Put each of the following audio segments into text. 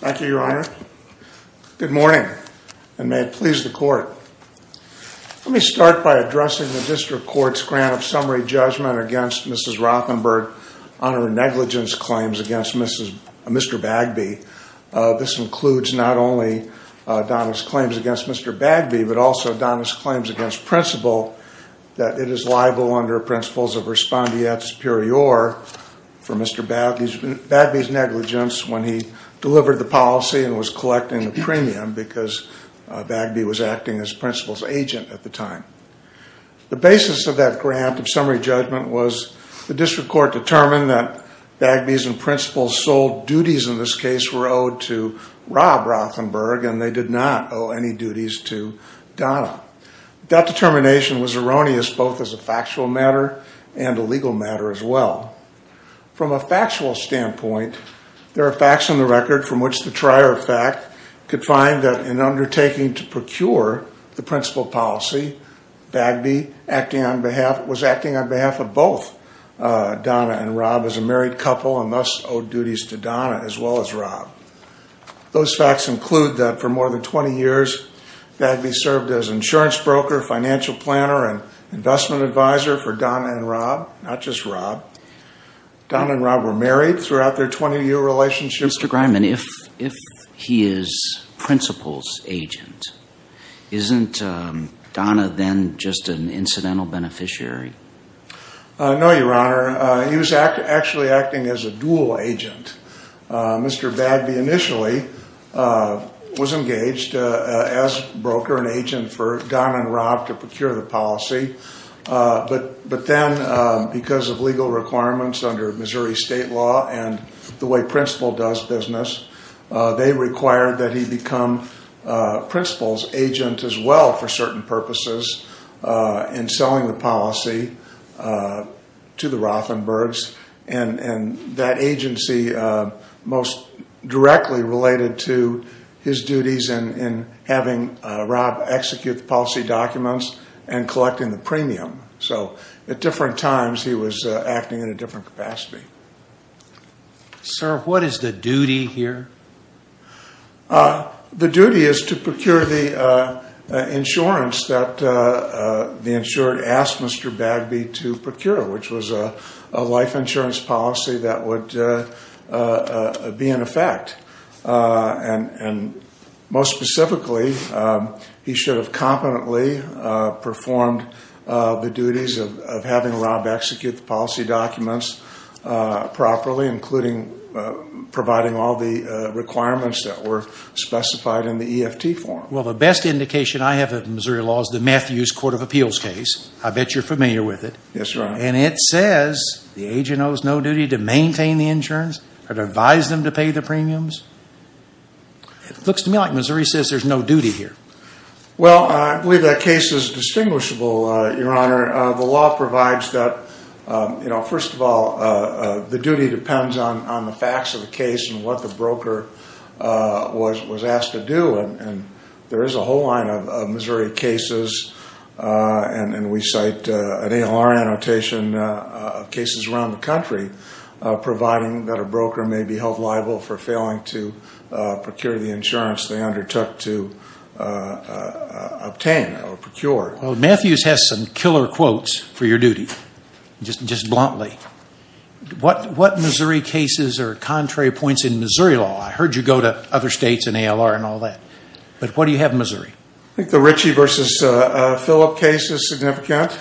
Thank you, your honor. Good morning and may it please the court. Let me start by addressing the district court's grant of summary judgment against Mrs. Rothenberg on her negligence claims against Mr. Bagby. This includes not only Donna's claims against Mr. Bagby, but also Donna's claims against principal that it is liable under principles of respondeat superior for Mr. Bagby's negligence when he delivered the policy and was collecting the premium because Bagby was acting as principal's agent at the time. The basis of that grant of summary judgment was the district court determined that Bagby's and principal's sole duties in this case were owed to Rob Rothenberg and they did not owe any duties to Donna. That determination was erroneous both as a factual matter and a legal matter as well. From a factual standpoint, there are facts on the record from which the trier of fact could find that in undertaking to procure the principal policy, Bagby was acting on behalf of both Donna and Rob as a married couple and thus owed duties to Donna as well as Rob. Those facts include that for more than 20 years Bagby served as insurance broker, financial planner, and as Rob. Donna and Rob were married throughout their 20-year relationship. Mr. Grineman, if he is principal's agent, isn't Donna then just an incidental beneficiary? No, your honor. He was actually acting as a dual agent. Mr. Bagby initially was engaged as broker and agent for Donna and Rob to procure the policy, but then because of legal requirements under Missouri state law and the way principal does business, they required that he become principal's agent as well for certain purposes in selling the policy to the Rothenbergs. That agency most directly related to his duties in having Rob execute the policy documents and collecting the premium. So at different times, he was acting in a different capacity. Sir, what is the duty here? The duty is to procure the insurance that the insured asked Mr. Bagby to procure, which was a life insurance policy that would be in effect. And most specifically, he should have competently performed the duties of having Rob execute the policy documents properly, including providing all the requirements that were specified in the EFT form. Well, the best indication I have of Missouri law is the agency owes no duty to maintain the insurance or to advise them to pay the premiums? It looks to me like Missouri says there's no duty here. Well, I believe that case is distinguishable, your honor. The law provides that, you know, first of all, the duty depends on the facts of the case and what the broker was asked to do, and there is a whole line of Missouri cases, and we cite an ALR annotation of cases around the country providing that a broker may be held liable for failing to procure the insurance they undertook to obtain or procure. Well, Matthews has some killer quotes for your duty, just bluntly. What Missouri cases are contrary points in Missouri law? I heard you go to other states and ALR and all that, but what do you have in Missouri? I think the Ritchie v. Phillip case is significant,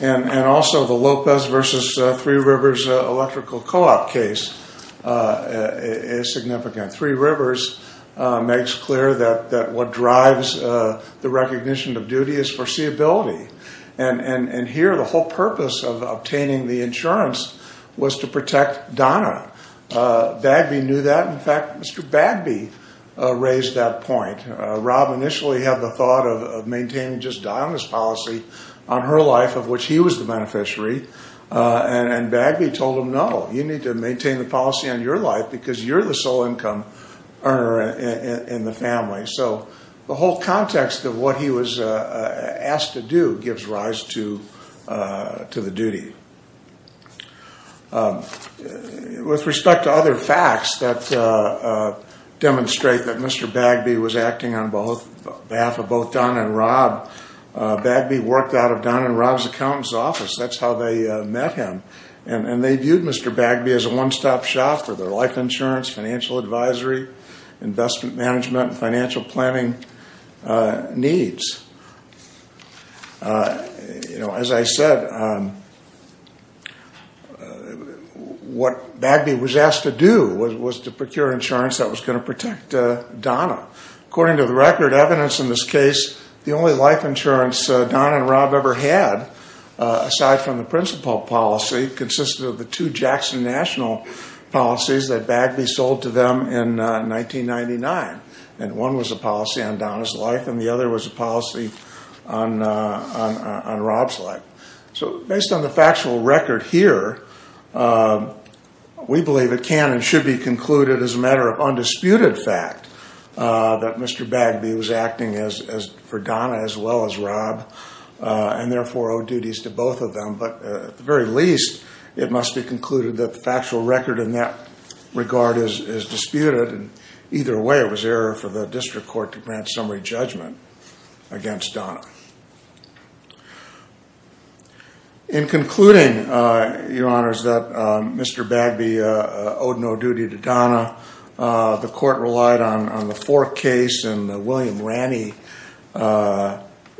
and also the Lopez v. Three Rivers electrical co-op case is significant. Three Rivers makes clear that what drives the recognition of duty is foreseeability, and here the whole purpose of obtaining the insurance was to protect Donna. Bagby knew that. In fact, Mr. Bagby raised that point. Rob initially had the thought of maintaining just Donna's policy on her life, of which he was the beneficiary, and Bagby told him, no, you need to maintain the policy on your life because you're the sole income earner in the family. So the whole context of what he was asked to do gives rise to the duty. With respect to other facts that demonstrate that Mr. Bagby was acting on behalf of both Donna and Rob, Bagby worked out of Donna and Rob's accountant's office. That's how they met him, and they viewed Mr. Bagby as a one-stop shop for their life insurance, financial advisory, investment management, and financial planning needs. As I said, what Bagby was asked to do was to procure insurance that was going to protect Donna. According to the record, evidence in this case, the only life insurance Donna and Rob ever had, aside from the principal policy, consisted of the two Jackson National policies that Bagby sold to them in 1999. One was a policy on Donna's life, and the other was a policy on Rob's life. So based on the factual record here, we believe it can and should be concluded as a matter of undisputed fact that Mr. Bagby was acting for Donna as well as Rob, and therefore owed duties to both of them. But at the very least, it must be concluded that the factual record in that regard is disputed, and either way, it was error for the district court to grant summary judgment against Donna. In concluding, Your Honors, that Mr. Bagby owed no duty to Donna, the court relied on the Fork case and the William Ranney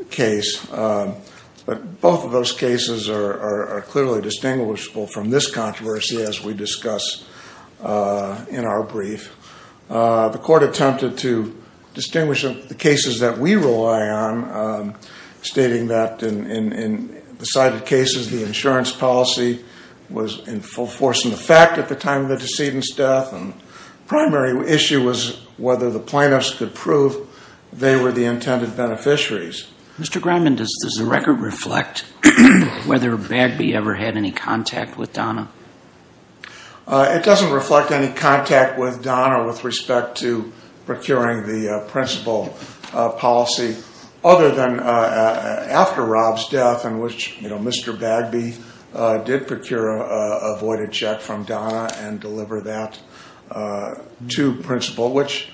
case. But both of those cases are clearly distinguishable from this controversy as we discuss in our brief. The court attempted to distinguish the cases that we rely on, stating that in the cited cases, the insurance policy was in full force in effect at the time of the decedent's death, and the primary issue was whether the plaintiffs could prove they were the intended beneficiaries. Mr. Grineman, does the record reflect whether Bagby ever had any contact with Donna? It doesn't reflect any contact with Donna with respect to procuring the principal policy, other than after Rob's death, in which Mr. Bagby did procure a voided check from Donna and deliver that to principal, which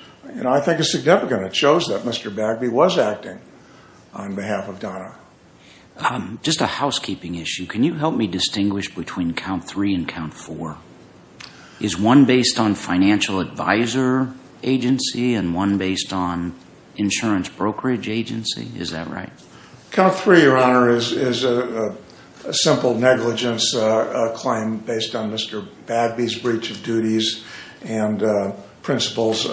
I think is significant. It shows that Mr. Bagby was acting on behalf of Donna. Just a housekeeping issue, can you help me distinguish between count three and count four? Is one based on financial advisor agency and one based on insurance brokerage agency, is that right? Count three, Your Honor, is a simple negligence claim based on Mr. Bagby's breach of duties and principal's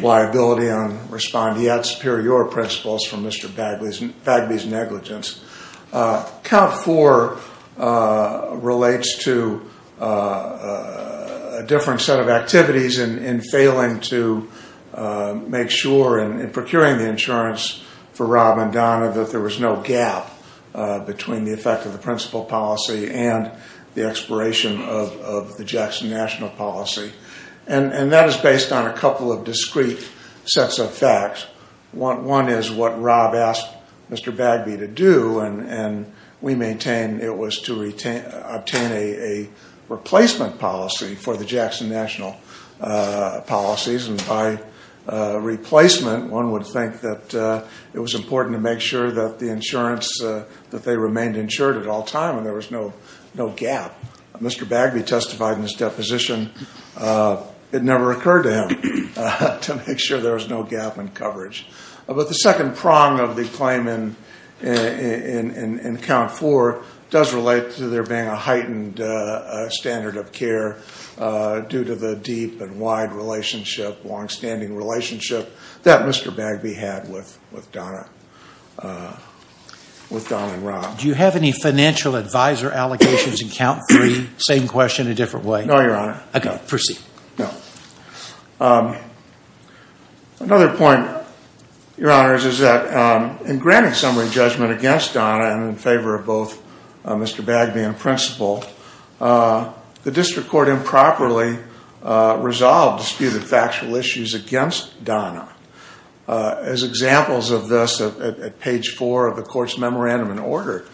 liability on responding. Count four relates to a different set of activities in failing to make sure, in procuring the insurance for Rob and Donna, that there was no gap between the effect of the principal policy and the expiration of the Jackson National Policy. And that is based on a couple of discrete sets of facts. One is what Rob asked Mr. Bagby to do, and we maintain it was to obtain a replacement policy for the Jackson National policies. And by replacement, one would think that it was important to make sure that the insurance, that they remained insured at all time and there was no gap. Mr. Bagby testified in his deposition, it never occurred to him to make sure there was no gap in coverage. But the second prong of the claim in count four does relate to there being a heightened standard of care due to the deep and wide relationship, long standing relationship that Mr. Bagby had with Donna and Rob. Do you have any financial advisor allegations in count three? Same question, a different way. No, Your Honor. Okay, proceed. No. Another point, Your Honors, is that in granting summary judgment against Donna and in favor of both Mr. Bagby and principal, the district court improperly resolved disputed factual issues against Donna. As examples of this, at page four of the court's memorandum in order,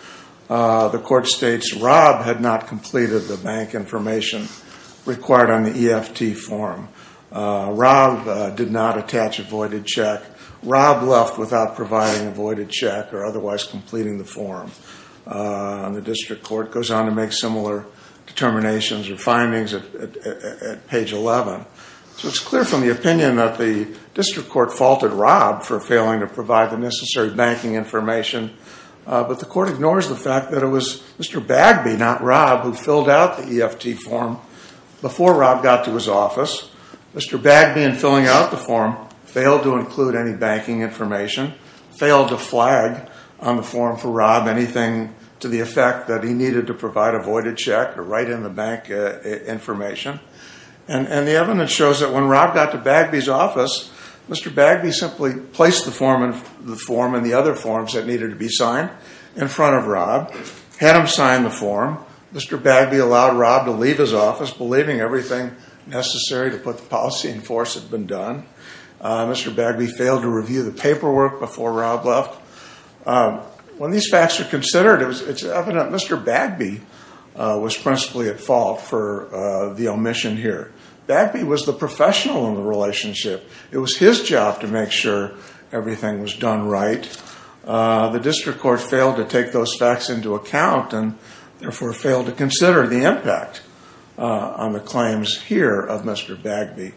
the court states Rob had not completed the bank information required on the EFT form. Rob did not attach a voided check. Rob left without providing a voided check or otherwise completing the form. And the district court goes on to make similar determinations or findings at page 11. So it's clear from the opinion that the district court faulted Rob for failing to provide the necessary banking information. But the court ignores the fact that it was Mr. Bagby, not Rob, who filled out the EFT form before Rob got to his office. Mr. Bagby, in filling out the form, failed to include any banking information, failed to flag on the form for Rob anything to the effect that he needed to provide a voided check or write in the bank information. And the evidence shows that when Rob got to Bagby's office, Mr. Bagby simply placed the form in the other forms that needed to be signed in front of Rob. Had him sign the form. Mr. Bagby allowed Rob to leave his office believing everything necessary to put the policy in force had been done. Mr. Bagby failed to review the paperwork before Rob left. When these facts are considered, it's evident Mr. Bagby was principally at fault for the omission here. Bagby was the professional in the relationship. It was his job to make sure everything was done right. The district court failed to take those facts into account and therefore failed to consider the impact on the claims here of Mr. Bagby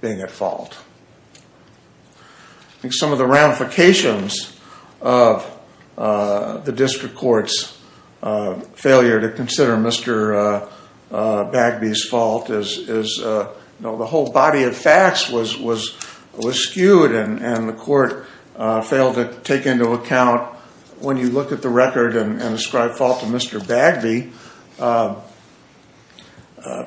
being at fault. Some of the ramifications of the district court's failure to consider Mr. Bagby's fault is the whole body of facts was skewed and the court failed to take into account When you look at the record and ascribe fault to Mr. Bagby,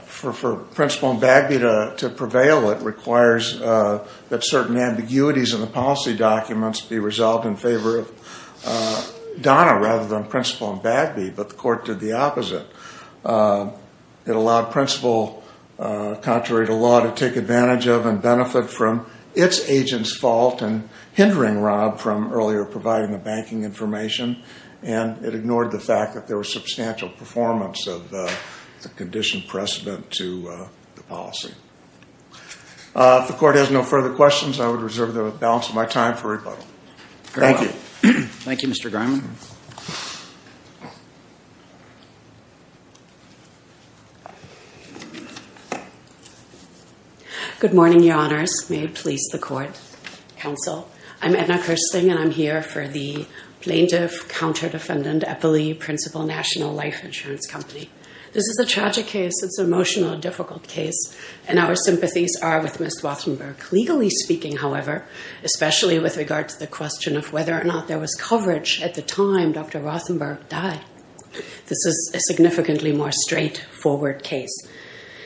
for Principal and Bagby to prevail, it requires that certain ambiguities in the policy documents be resolved in favor of Donna rather than Principal and Bagby. But the court did the opposite. It allowed Principal, contrary to law, to take advantage of and benefit from its agent's fault and hindering Rob from earlier providing the banking information. And it ignored the fact that there was substantial performance of the condition precedent to the policy. If the court has no further questions, I would reserve the balance of my time for rebuttal. Thank you. Thank you, Mr. Griman. Good morning, Your Honors. May it please the court. Counsel. I'm Edna Kirsting and I'm here for the plaintiff, counter-defendant, Eppley, Principal, National Life Insurance Company. This is a tragic case. It's an emotional, difficult case. And our sympathies are with Ms. Rothenberg. Legally speaking, however, especially with regard to the question of whether or not there was coverage at the time Dr. Rothenberg died, this is a significant case. It's a significantly more straightforward case.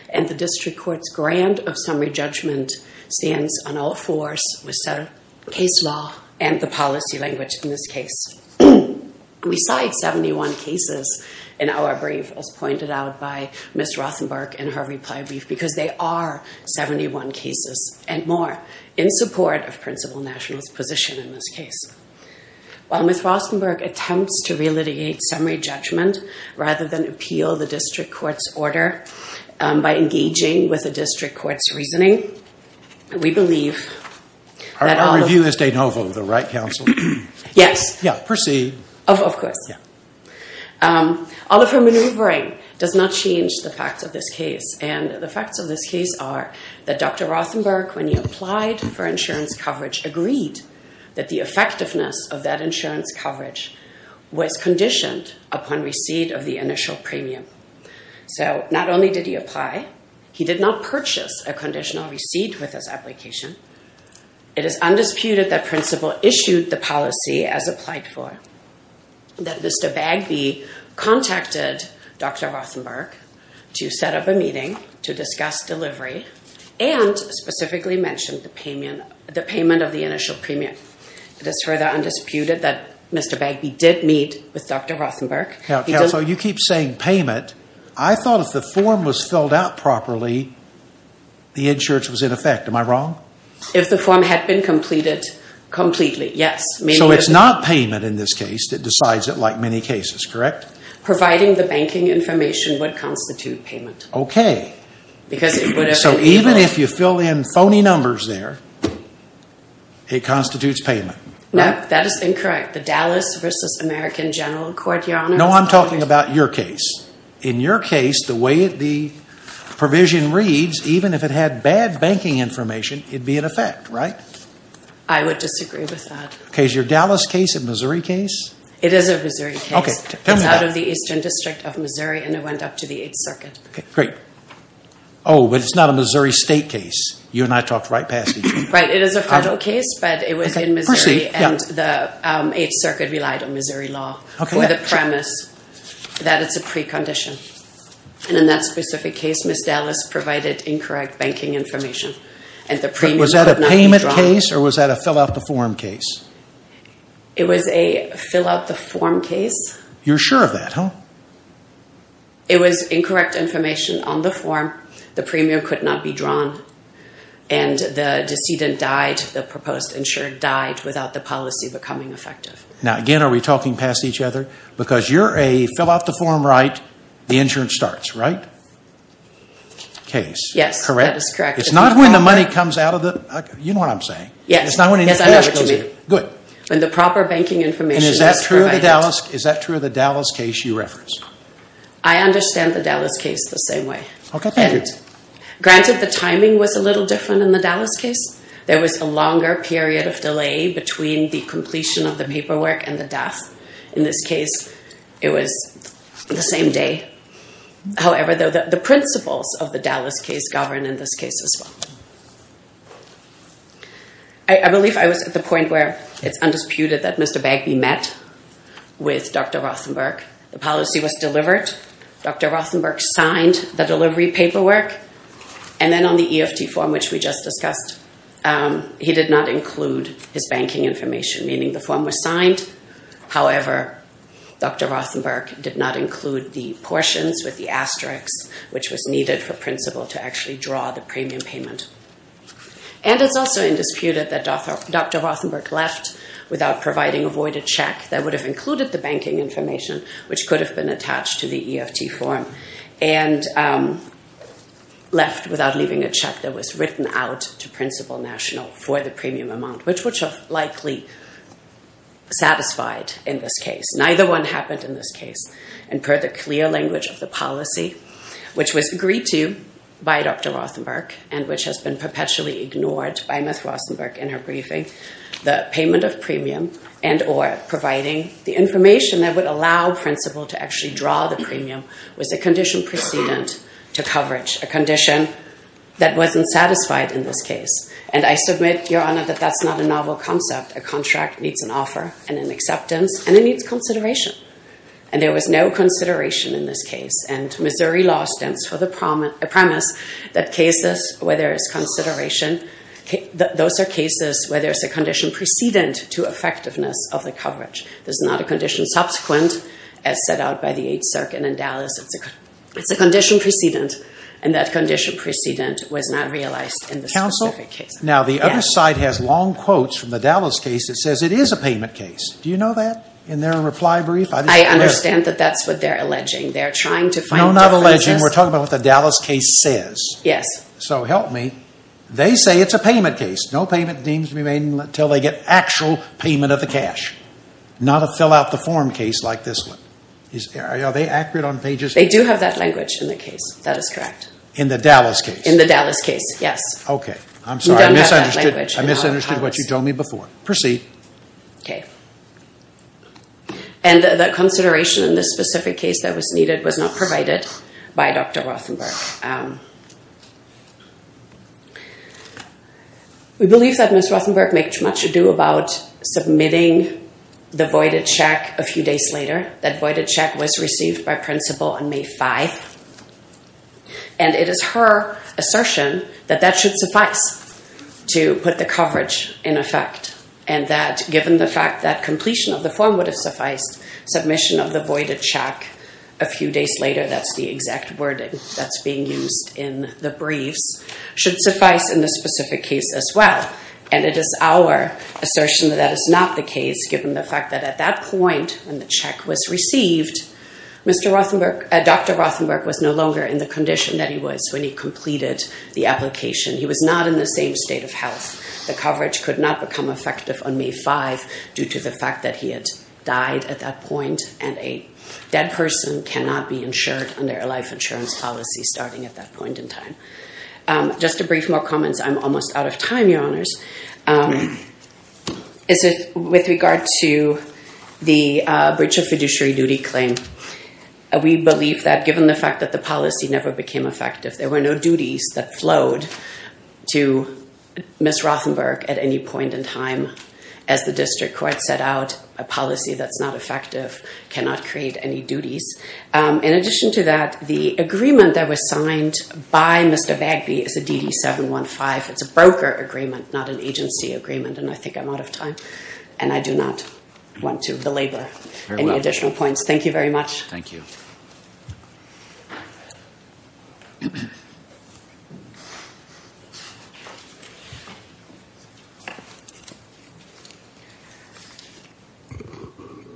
And the district court's grant of summary judgment stands on all fours with case law and the policy language in this case. We cite 71 cases in our brief, as pointed out by Ms. Rothenberg in her reply brief, because they are 71 cases and more in support of Principal National's position in this case. While Ms. Rothenberg attempts to relitigate summary judgment rather than appeal the district court's order by engaging with the district court's reasoning, we believe that— Our review is de novo, though, right, counsel? Yes. Proceed. Of course. All of her maneuvering does not change the facts of this case. And the facts of this case are that Dr. Rothenberg, when he applied for insurance coverage, agreed that the effectiveness of that insurance coverage was conditioned upon receipt of the initial premium. So not only did he apply, he did not purchase a conditional receipt with his application. It is undisputed that Principal issued the policy as applied for, that Mr. Bagby contacted Dr. Rothenberg to set up a meeting to discuss delivery, and specifically mentioned the payment of the initial premium. It is further undisputed that Mr. Bagby did meet with Dr. Rothenberg. Counsel, you keep saying payment. I thought if the form was filled out properly, the insurance was in effect. Am I wrong? If the form had been completed completely, yes. So it's not payment in this case that decides it like many cases, correct? Providing the banking information would constitute payment. Okay. So even if you fill in phony numbers there, it constitutes payment. No, that is incorrect. The Dallas v. American General Court, Your Honor— No, I'm talking about your case. In your case, the way the provision reads, even if it had bad banking information, it'd be in effect, right? I would disagree with that. Okay, is your Dallas case a Missouri case? It is a Missouri case. Okay, tell me about it. It's out of the Eastern District of Missouri, and it went up to the Eighth Circuit. Great. Oh, but it's not a Missouri state case. You and I talked right past each other. Right, it is a federal case, but it was in Missouri, and the Eighth Circuit relied on Missouri law. Okay. With the premise that it's a precondition, and in that specific case, Ms. Dallas provided incorrect banking information, and the premium could not be drawn. Was that a payment case, or was that a fill-out-the-form case? It was a fill-out-the-form case. You're sure of that, huh? It was incorrect information on the form. The premium could not be drawn, and the decedent died. The proposed insurer died without the policy becoming effective. Now, again, are we talking past each other? Because you're a fill-out-the-form right, the insurance starts, right? Case. Yes, that is correct. It's not when the money comes out of the... You know what I'm saying. Yes, I know what you mean. When the proper banking information is provided. Is that true of the Dallas case you referenced? I understand the Dallas case the same way. Okay, thank you. Granted, the timing was a little different in the Dallas case. There was a longer period of delay between the completion of the paperwork and the death. In this case, it was the same day. However, the principles of the Dallas case govern in this case as well. I believe I was at the point where it's undisputed that Mr. Bagby met with Dr. Rothenberg. The policy was delivered. Dr. Rothenberg signed the delivery paperwork. And then on the EFT form, which we just discussed, he did not include his banking information. Meaning the form was signed. However, Dr. Rothenberg did not include the portions with the asterisk which was needed for principle to actually draw the premium payment. And it's also undisputed that Dr. Rothenberg left without providing a voided check that would have included the banking information which could have been attached to the EFT form. And left without leaving a check that was written out to principle national for the premium amount. Which would have likely satisfied in this case. Neither one happened in this case. And per the clear language of the policy, which was agreed to by Dr. Rothenberg and which has been perpetually ignored by Ms. Rothenberg in her briefing, the payment of premium and or providing the information that would allow principle to actually draw the premium was a condition precedent to coverage. A condition that wasn't satisfied in this case. And I submit, Your Honor, that that's not a novel concept. A contract needs an offer and an acceptance and it needs consideration. And there was no consideration in this case. And Missouri law stands for the premise that cases where there is consideration, those are cases where there's a condition precedent to effectiveness of the coverage. There's not a condition subsequent as set out by the 8th Circuit in Dallas. It's a condition precedent. And that condition precedent was not realized in this specific case. Counsel, now the other side has long quotes from the Dallas case that says it is a payment case. Do you know that in their reply brief? I understand that that's what they're alleging. They're trying to find differences. No, not alleging. We're talking about what the Dallas case says. Yes. So help me. They say it's a payment case. No payment deems remain until they get actual payment of the cash. Not a fill out the form case like this one. Are they accurate on pages? They do have that language in the case. That is correct. In the Dallas case? In the Dallas case, yes. Okay. I'm sorry. I misunderstood what you told me before. Proceed. Okay. And the consideration in this specific case that was needed was not provided by Dr. Rothenberg. We believe that Ms. Rothenberg made much ado about submitting the voided check a few days later. That voided check was received by principal on May 5. And it is her assertion that that should suffice to put the coverage in effect. And that given the fact that completion of the form would have sufficed, submission of the voided check a few days later, that's the exact wording that's being used in the briefs, should suffice in this specific case as well. And it is our assertion that that is not the case given the fact that at that point, when the check was received, Dr. Rothenberg was no longer in the condition that he was when he completed the application. He was not in the same state of health. The coverage could not become effective on May 5 due to the fact that he had died at that point. And a dead person cannot be insured under a life insurance policy starting at that point in time. Just a brief more comments. I'm almost out of time, Your Honors. With regard to the breach of fiduciary duty claim, we believe that given the fact that the policy never became effective, there were no duties that flowed to Ms. Rothenberg at any point in time. As the district court set out, a policy that's not effective cannot create any duties. In addition to that, the agreement that was signed by Mr. Bagby is a DD-715. It's a broker agreement, not an agency agreement. And I think I'm out of time, and I do not want to belabor any additional points. Thank you very much. Thank you. Thank you.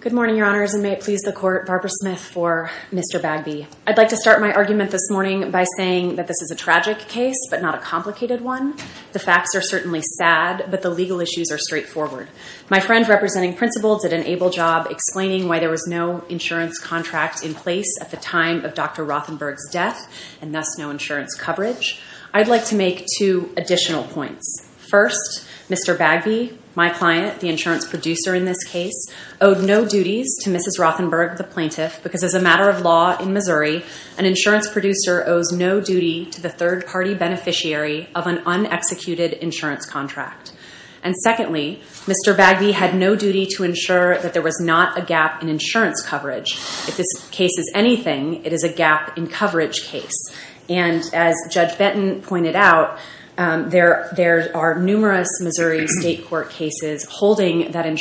Good morning, Your Honors, and may it please the court, Barbara Smith for Mr. Bagby. I'd like to start my argument this morning by saying that this is a tragic case, but not a complicated one. The facts are certainly sad, but the legal issues are straightforward. My friend representing principals at an ABLE job explaining why there was no insurance contract in place at the time of Dr. Rothenberg's death, and thus no insurance coverage, I'd like to make two additional points. First, Mr. Bagby, my client, the insurance producer in this case, owed no duties to Mrs. Rothenberg, the plaintiff, because as a matter of law in Missouri, an insurance producer owes no duty to the third-party beneficiary of an unexecuted insurance contract. And secondly, Mr. Bagby had no duty to ensure that there was not a gap in insurance coverage. If this case is anything, it is a gap in coverage case. And as Judge Benton pointed out, there are numerous Missouri state court cases holding that an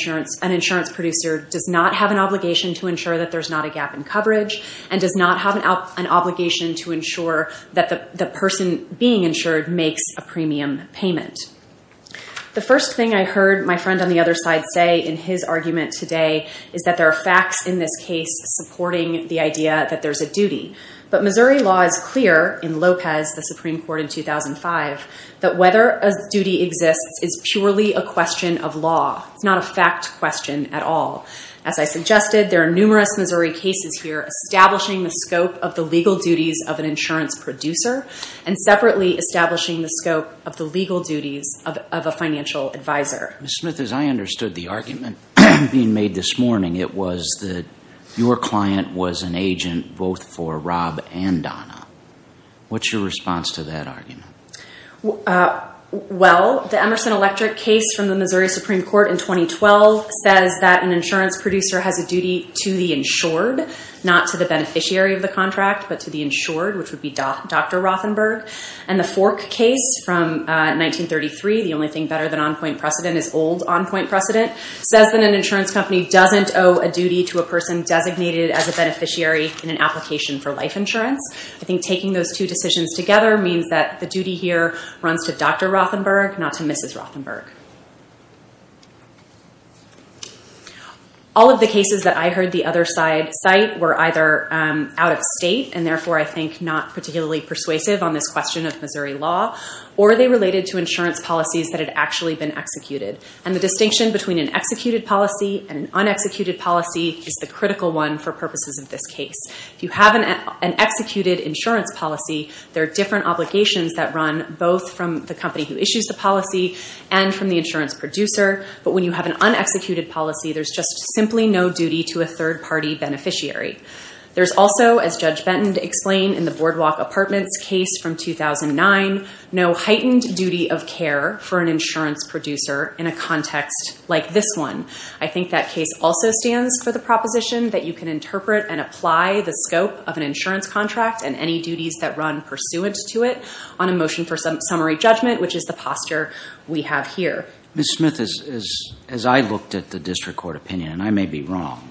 insurance producer does not have an obligation to ensure that there's not a gap in coverage and does not have an obligation to ensure that the person being insured makes a premium payment. The first thing I heard my friend on the other side say in his argument today is that there are facts in this case supporting the idea that there's a duty. But Missouri law is clear in Lopez, the Supreme Court in 2005, that whether a duty exists is purely a question of law. It's not a fact question at all. As I suggested, there are numerous Missouri cases here establishing the scope of the legal duties of an insurance producer and separately establishing the scope of the legal duties of a financial advisor. Ms. Smith, as I understood the argument being made this morning, it was that your client was an agent both for Rob and Donna. What's your response to that argument? Well, the Emerson Electric case from the Missouri Supreme Court in 2012 says that an insurance producer has a duty to the insured, not to the beneficiary of the contract, but to the insured, which would be Dr. Rothenberg. And the Fork case from 1933, the only thing better than on-point precedent is old on-point precedent, says that an insurance company doesn't owe a duty to a person designated as a beneficiary in an application for life insurance. I think taking those two decisions together means that the duty here runs to Dr. Rothenberg, not to Mrs. Rothenberg. All of the cases that I heard the other side cite were either out-of-state and therefore, I think, not particularly persuasive on this question of Missouri law, or they related to insurance policies that had actually been executed. And the distinction between an executed policy and an unexecuted policy is the critical one for purposes of this case. If you have an executed insurance policy, there are different obligations that run both from the company who issues the policy and from the insurance producer. But when you have an unexecuted policy, there's just simply no duty to a third-party beneficiary. There's also, as Judge Benton explained in the Boardwalk Apartments case from 2009, no heightened duty of care for an insurance producer in a context like this one. I think that case also stands for the proposition that you can interpret and apply the scope of an insurance contract and any duties that run pursuant to it on a motion for summary judgment, which is the posture we have here. Ms. Smith, as I looked at the district court opinion, and I may be wrong,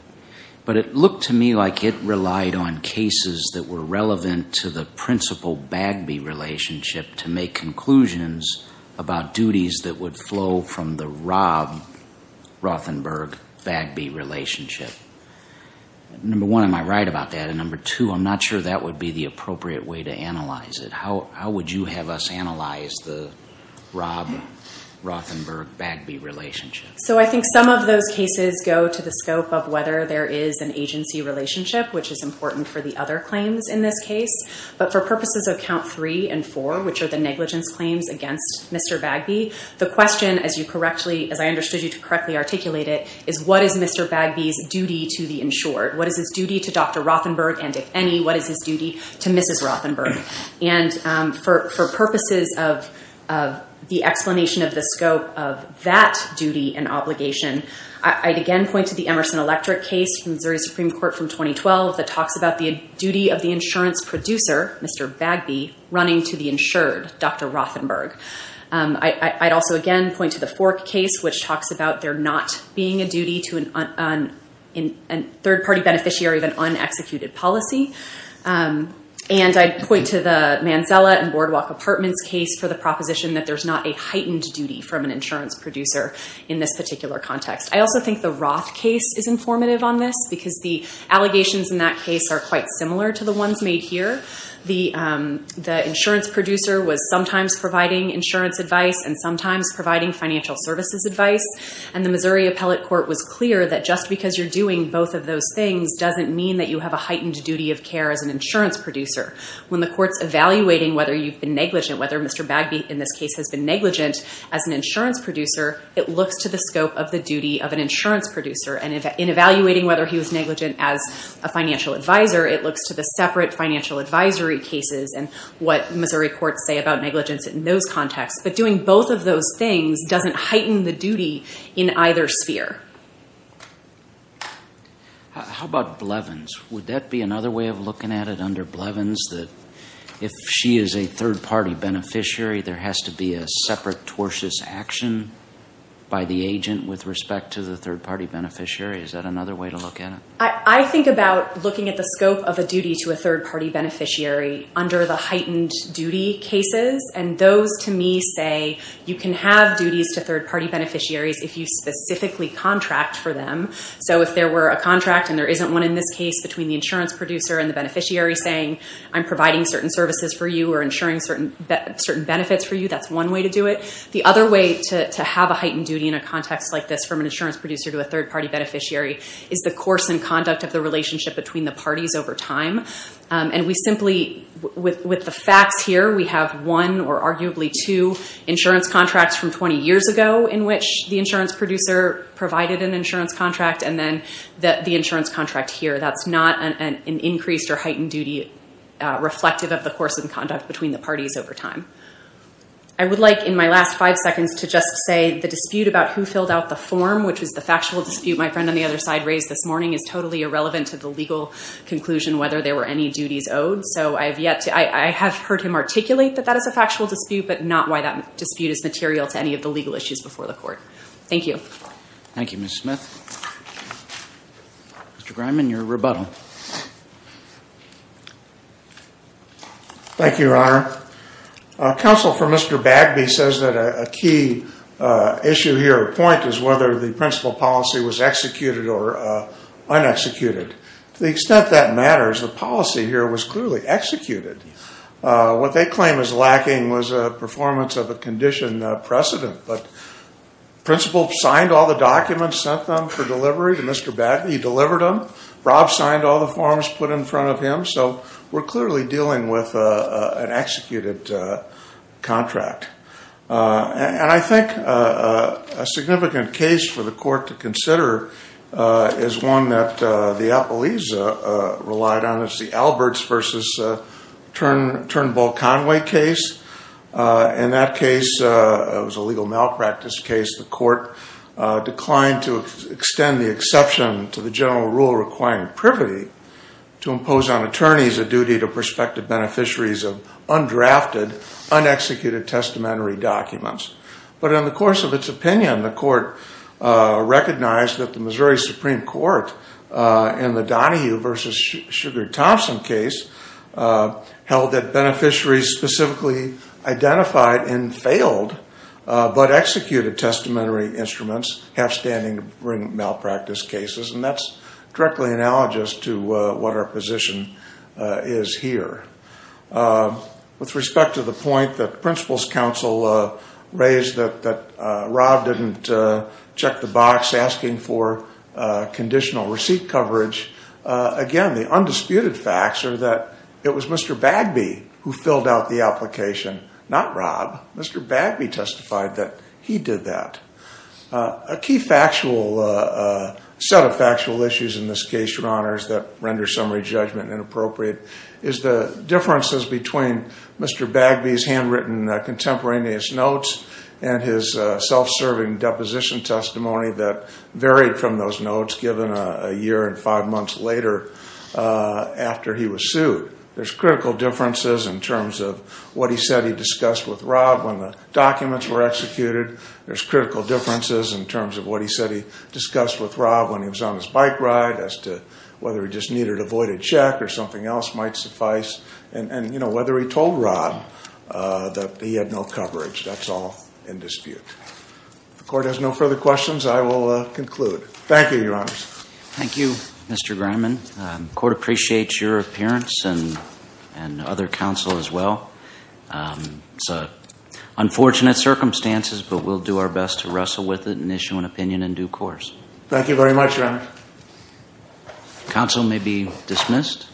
but it looked to me like it relied on cases that were relevant to the principal Bagby relationship to make conclusions about duties that would flow from the Rob Rothenberg-Bagby relationship. Number one, am I right about that? And number two, I'm not sure that would be the appropriate way to analyze it. How would you have us analyze the Rob Rothenberg-Bagby relationship? So I think some of those cases go to the scope of whether there is an agency relationship, which is important for the other claims in this case. But for purposes of count three and four, which are the negligence claims against Mr. Bagby, the question, as I understood you to correctly articulate it, is what is Mr. Bagby's duty to the insured? What is his duty to Dr. Rothenberg? And if any, what is his duty to Mrs. Rothenberg? And for purposes of the explanation of the scope of that duty and obligation, I'd again point to the Emerson Electric case from Missouri Supreme Court from 2012 that talks about the duty of the insurance producer, Mr. Bagby, running to the insured, Dr. Rothenberg. I'd also again point to the Fork case, which talks about there not being a duty to a third-party beneficiary of an un-executed policy. And I'd point to the Manzella and Boardwalk Apartments case for the proposition that there's not a heightened duty from an insurance producer in this particular context. I also think the Roth case is informative on this because the allegations in that case are quite similar to the ones made here. The insurance producer was sometimes providing insurance advice and sometimes providing financial services advice. And the Missouri Appellate Court was clear that just because you're doing both of those things doesn't mean that you have a heightened duty of care as an insurance producer. When the court's evaluating whether you've been negligent, whether Mr. Bagby in this case has been negligent as an insurance producer, it looks to the scope of the duty of an insurance producer. And in evaluating whether he was negligent as a financial advisor, it looks to the separate financial advisory cases and what Missouri courts say about negligence in those contexts. But doing both of those things doesn't heighten the duty in either sphere. How about Blevins? Would that be another way of looking at it under Blevins? That if she is a third-party beneficiary, there has to be a separate tortious action by the agent with respect to the third-party beneficiary. Is that another way to look at it? I think about looking at the scope of a duty to a third-party beneficiary under the heightened duty cases. And those, to me, say you can have duties to third-party beneficiaries if you specifically contract for them. So if there were a contract, and there isn't one in this case, between the insurance producer and the beneficiary saying, I'm providing certain services for you or ensuring certain benefits for you, that's one way to do it. The other way to have a heightened duty in a context like this from an insurance producer to a third-party beneficiary is the course and conduct of the relationship between the parties over time. And we simply, with the facts here, we have one or arguably two insurance contracts from 20 years ago in which the insurance producer provided an insurance contract, and then the insurance contract here. That's not an increased or heightened duty reflective of the course and conduct between the parties over time. I would like, in my last five seconds, to just say the dispute about who filled out the form, which was the factual dispute my friend on the other side raised this morning, is totally irrelevant to the legal conclusion whether there were any duties owed. So I have heard him articulate that that is a factual dispute, but not why that dispute is material to any of the legal issues before the court. Thank you. Thank you, Ms. Smith. Mr. Grineman, your rebuttal. Thank you, Your Honor. Counsel for Mr. Bagby says that a key issue here or point is whether the principal policy was executed or un-executed. To the extent that matters, the policy here was clearly executed. What they claim is lacking was a performance of a condition precedent, but the principal signed all the documents, sent them for delivery to Mr. Bagby, delivered them. Rob signed all the forms put in front of him, so we're clearly dealing with an executed contract. And I think a significant case for the court to consider is one that the appellees relied on. It's the Alberts v. Turnbull-Conway case. In that case, it was a legal malpractice case. The court declined to extend the exception to the general rule requiring privity to impose on attorneys a duty to prospective beneficiaries of undrafted, un-executed, testamentary documents. But in the course of its opinion, the court recognized that the Missouri Supreme Court in the Donahue v. Sugar-Thompson case held that beneficiaries specifically identified and failed but executed testamentary instruments, half-standing malpractice cases. And that's directly analogous to what our position is here. With respect to the point that Principal's Counsel raised that Rob didn't check the box asking for conditional receipt coverage. Again, the undisputed facts are that it was Mr. Bagby who filled out the application, not Rob. Mr. Bagby testified that he did that. A key set of factual issues in this case, Your Honors, that render summary judgment inappropriate, is the differences between Mr. Bagby's handwritten contemporaneous notes and his self-serving deposition testimony that varied from those notes given a year and five months later after he was sued. There's critical differences in terms of what he said he discussed with Rob when the documents were executed. There's critical differences in terms of what he said he discussed with Rob when he was on his bike ride, as to whether he just needed a voided check or something else might suffice. And whether he told Rob that he had no coverage, that's all in dispute. If the Court has no further questions, I will conclude. Thank you, Your Honors. Thank you, Mr. Greiman. The Court appreciates your appearance and other counsel as well. It's unfortunate circumstances, but we'll do our best to wrestle with it and issue an opinion in due course. Thank you very much, Your Honors. Counsel may be dismissed.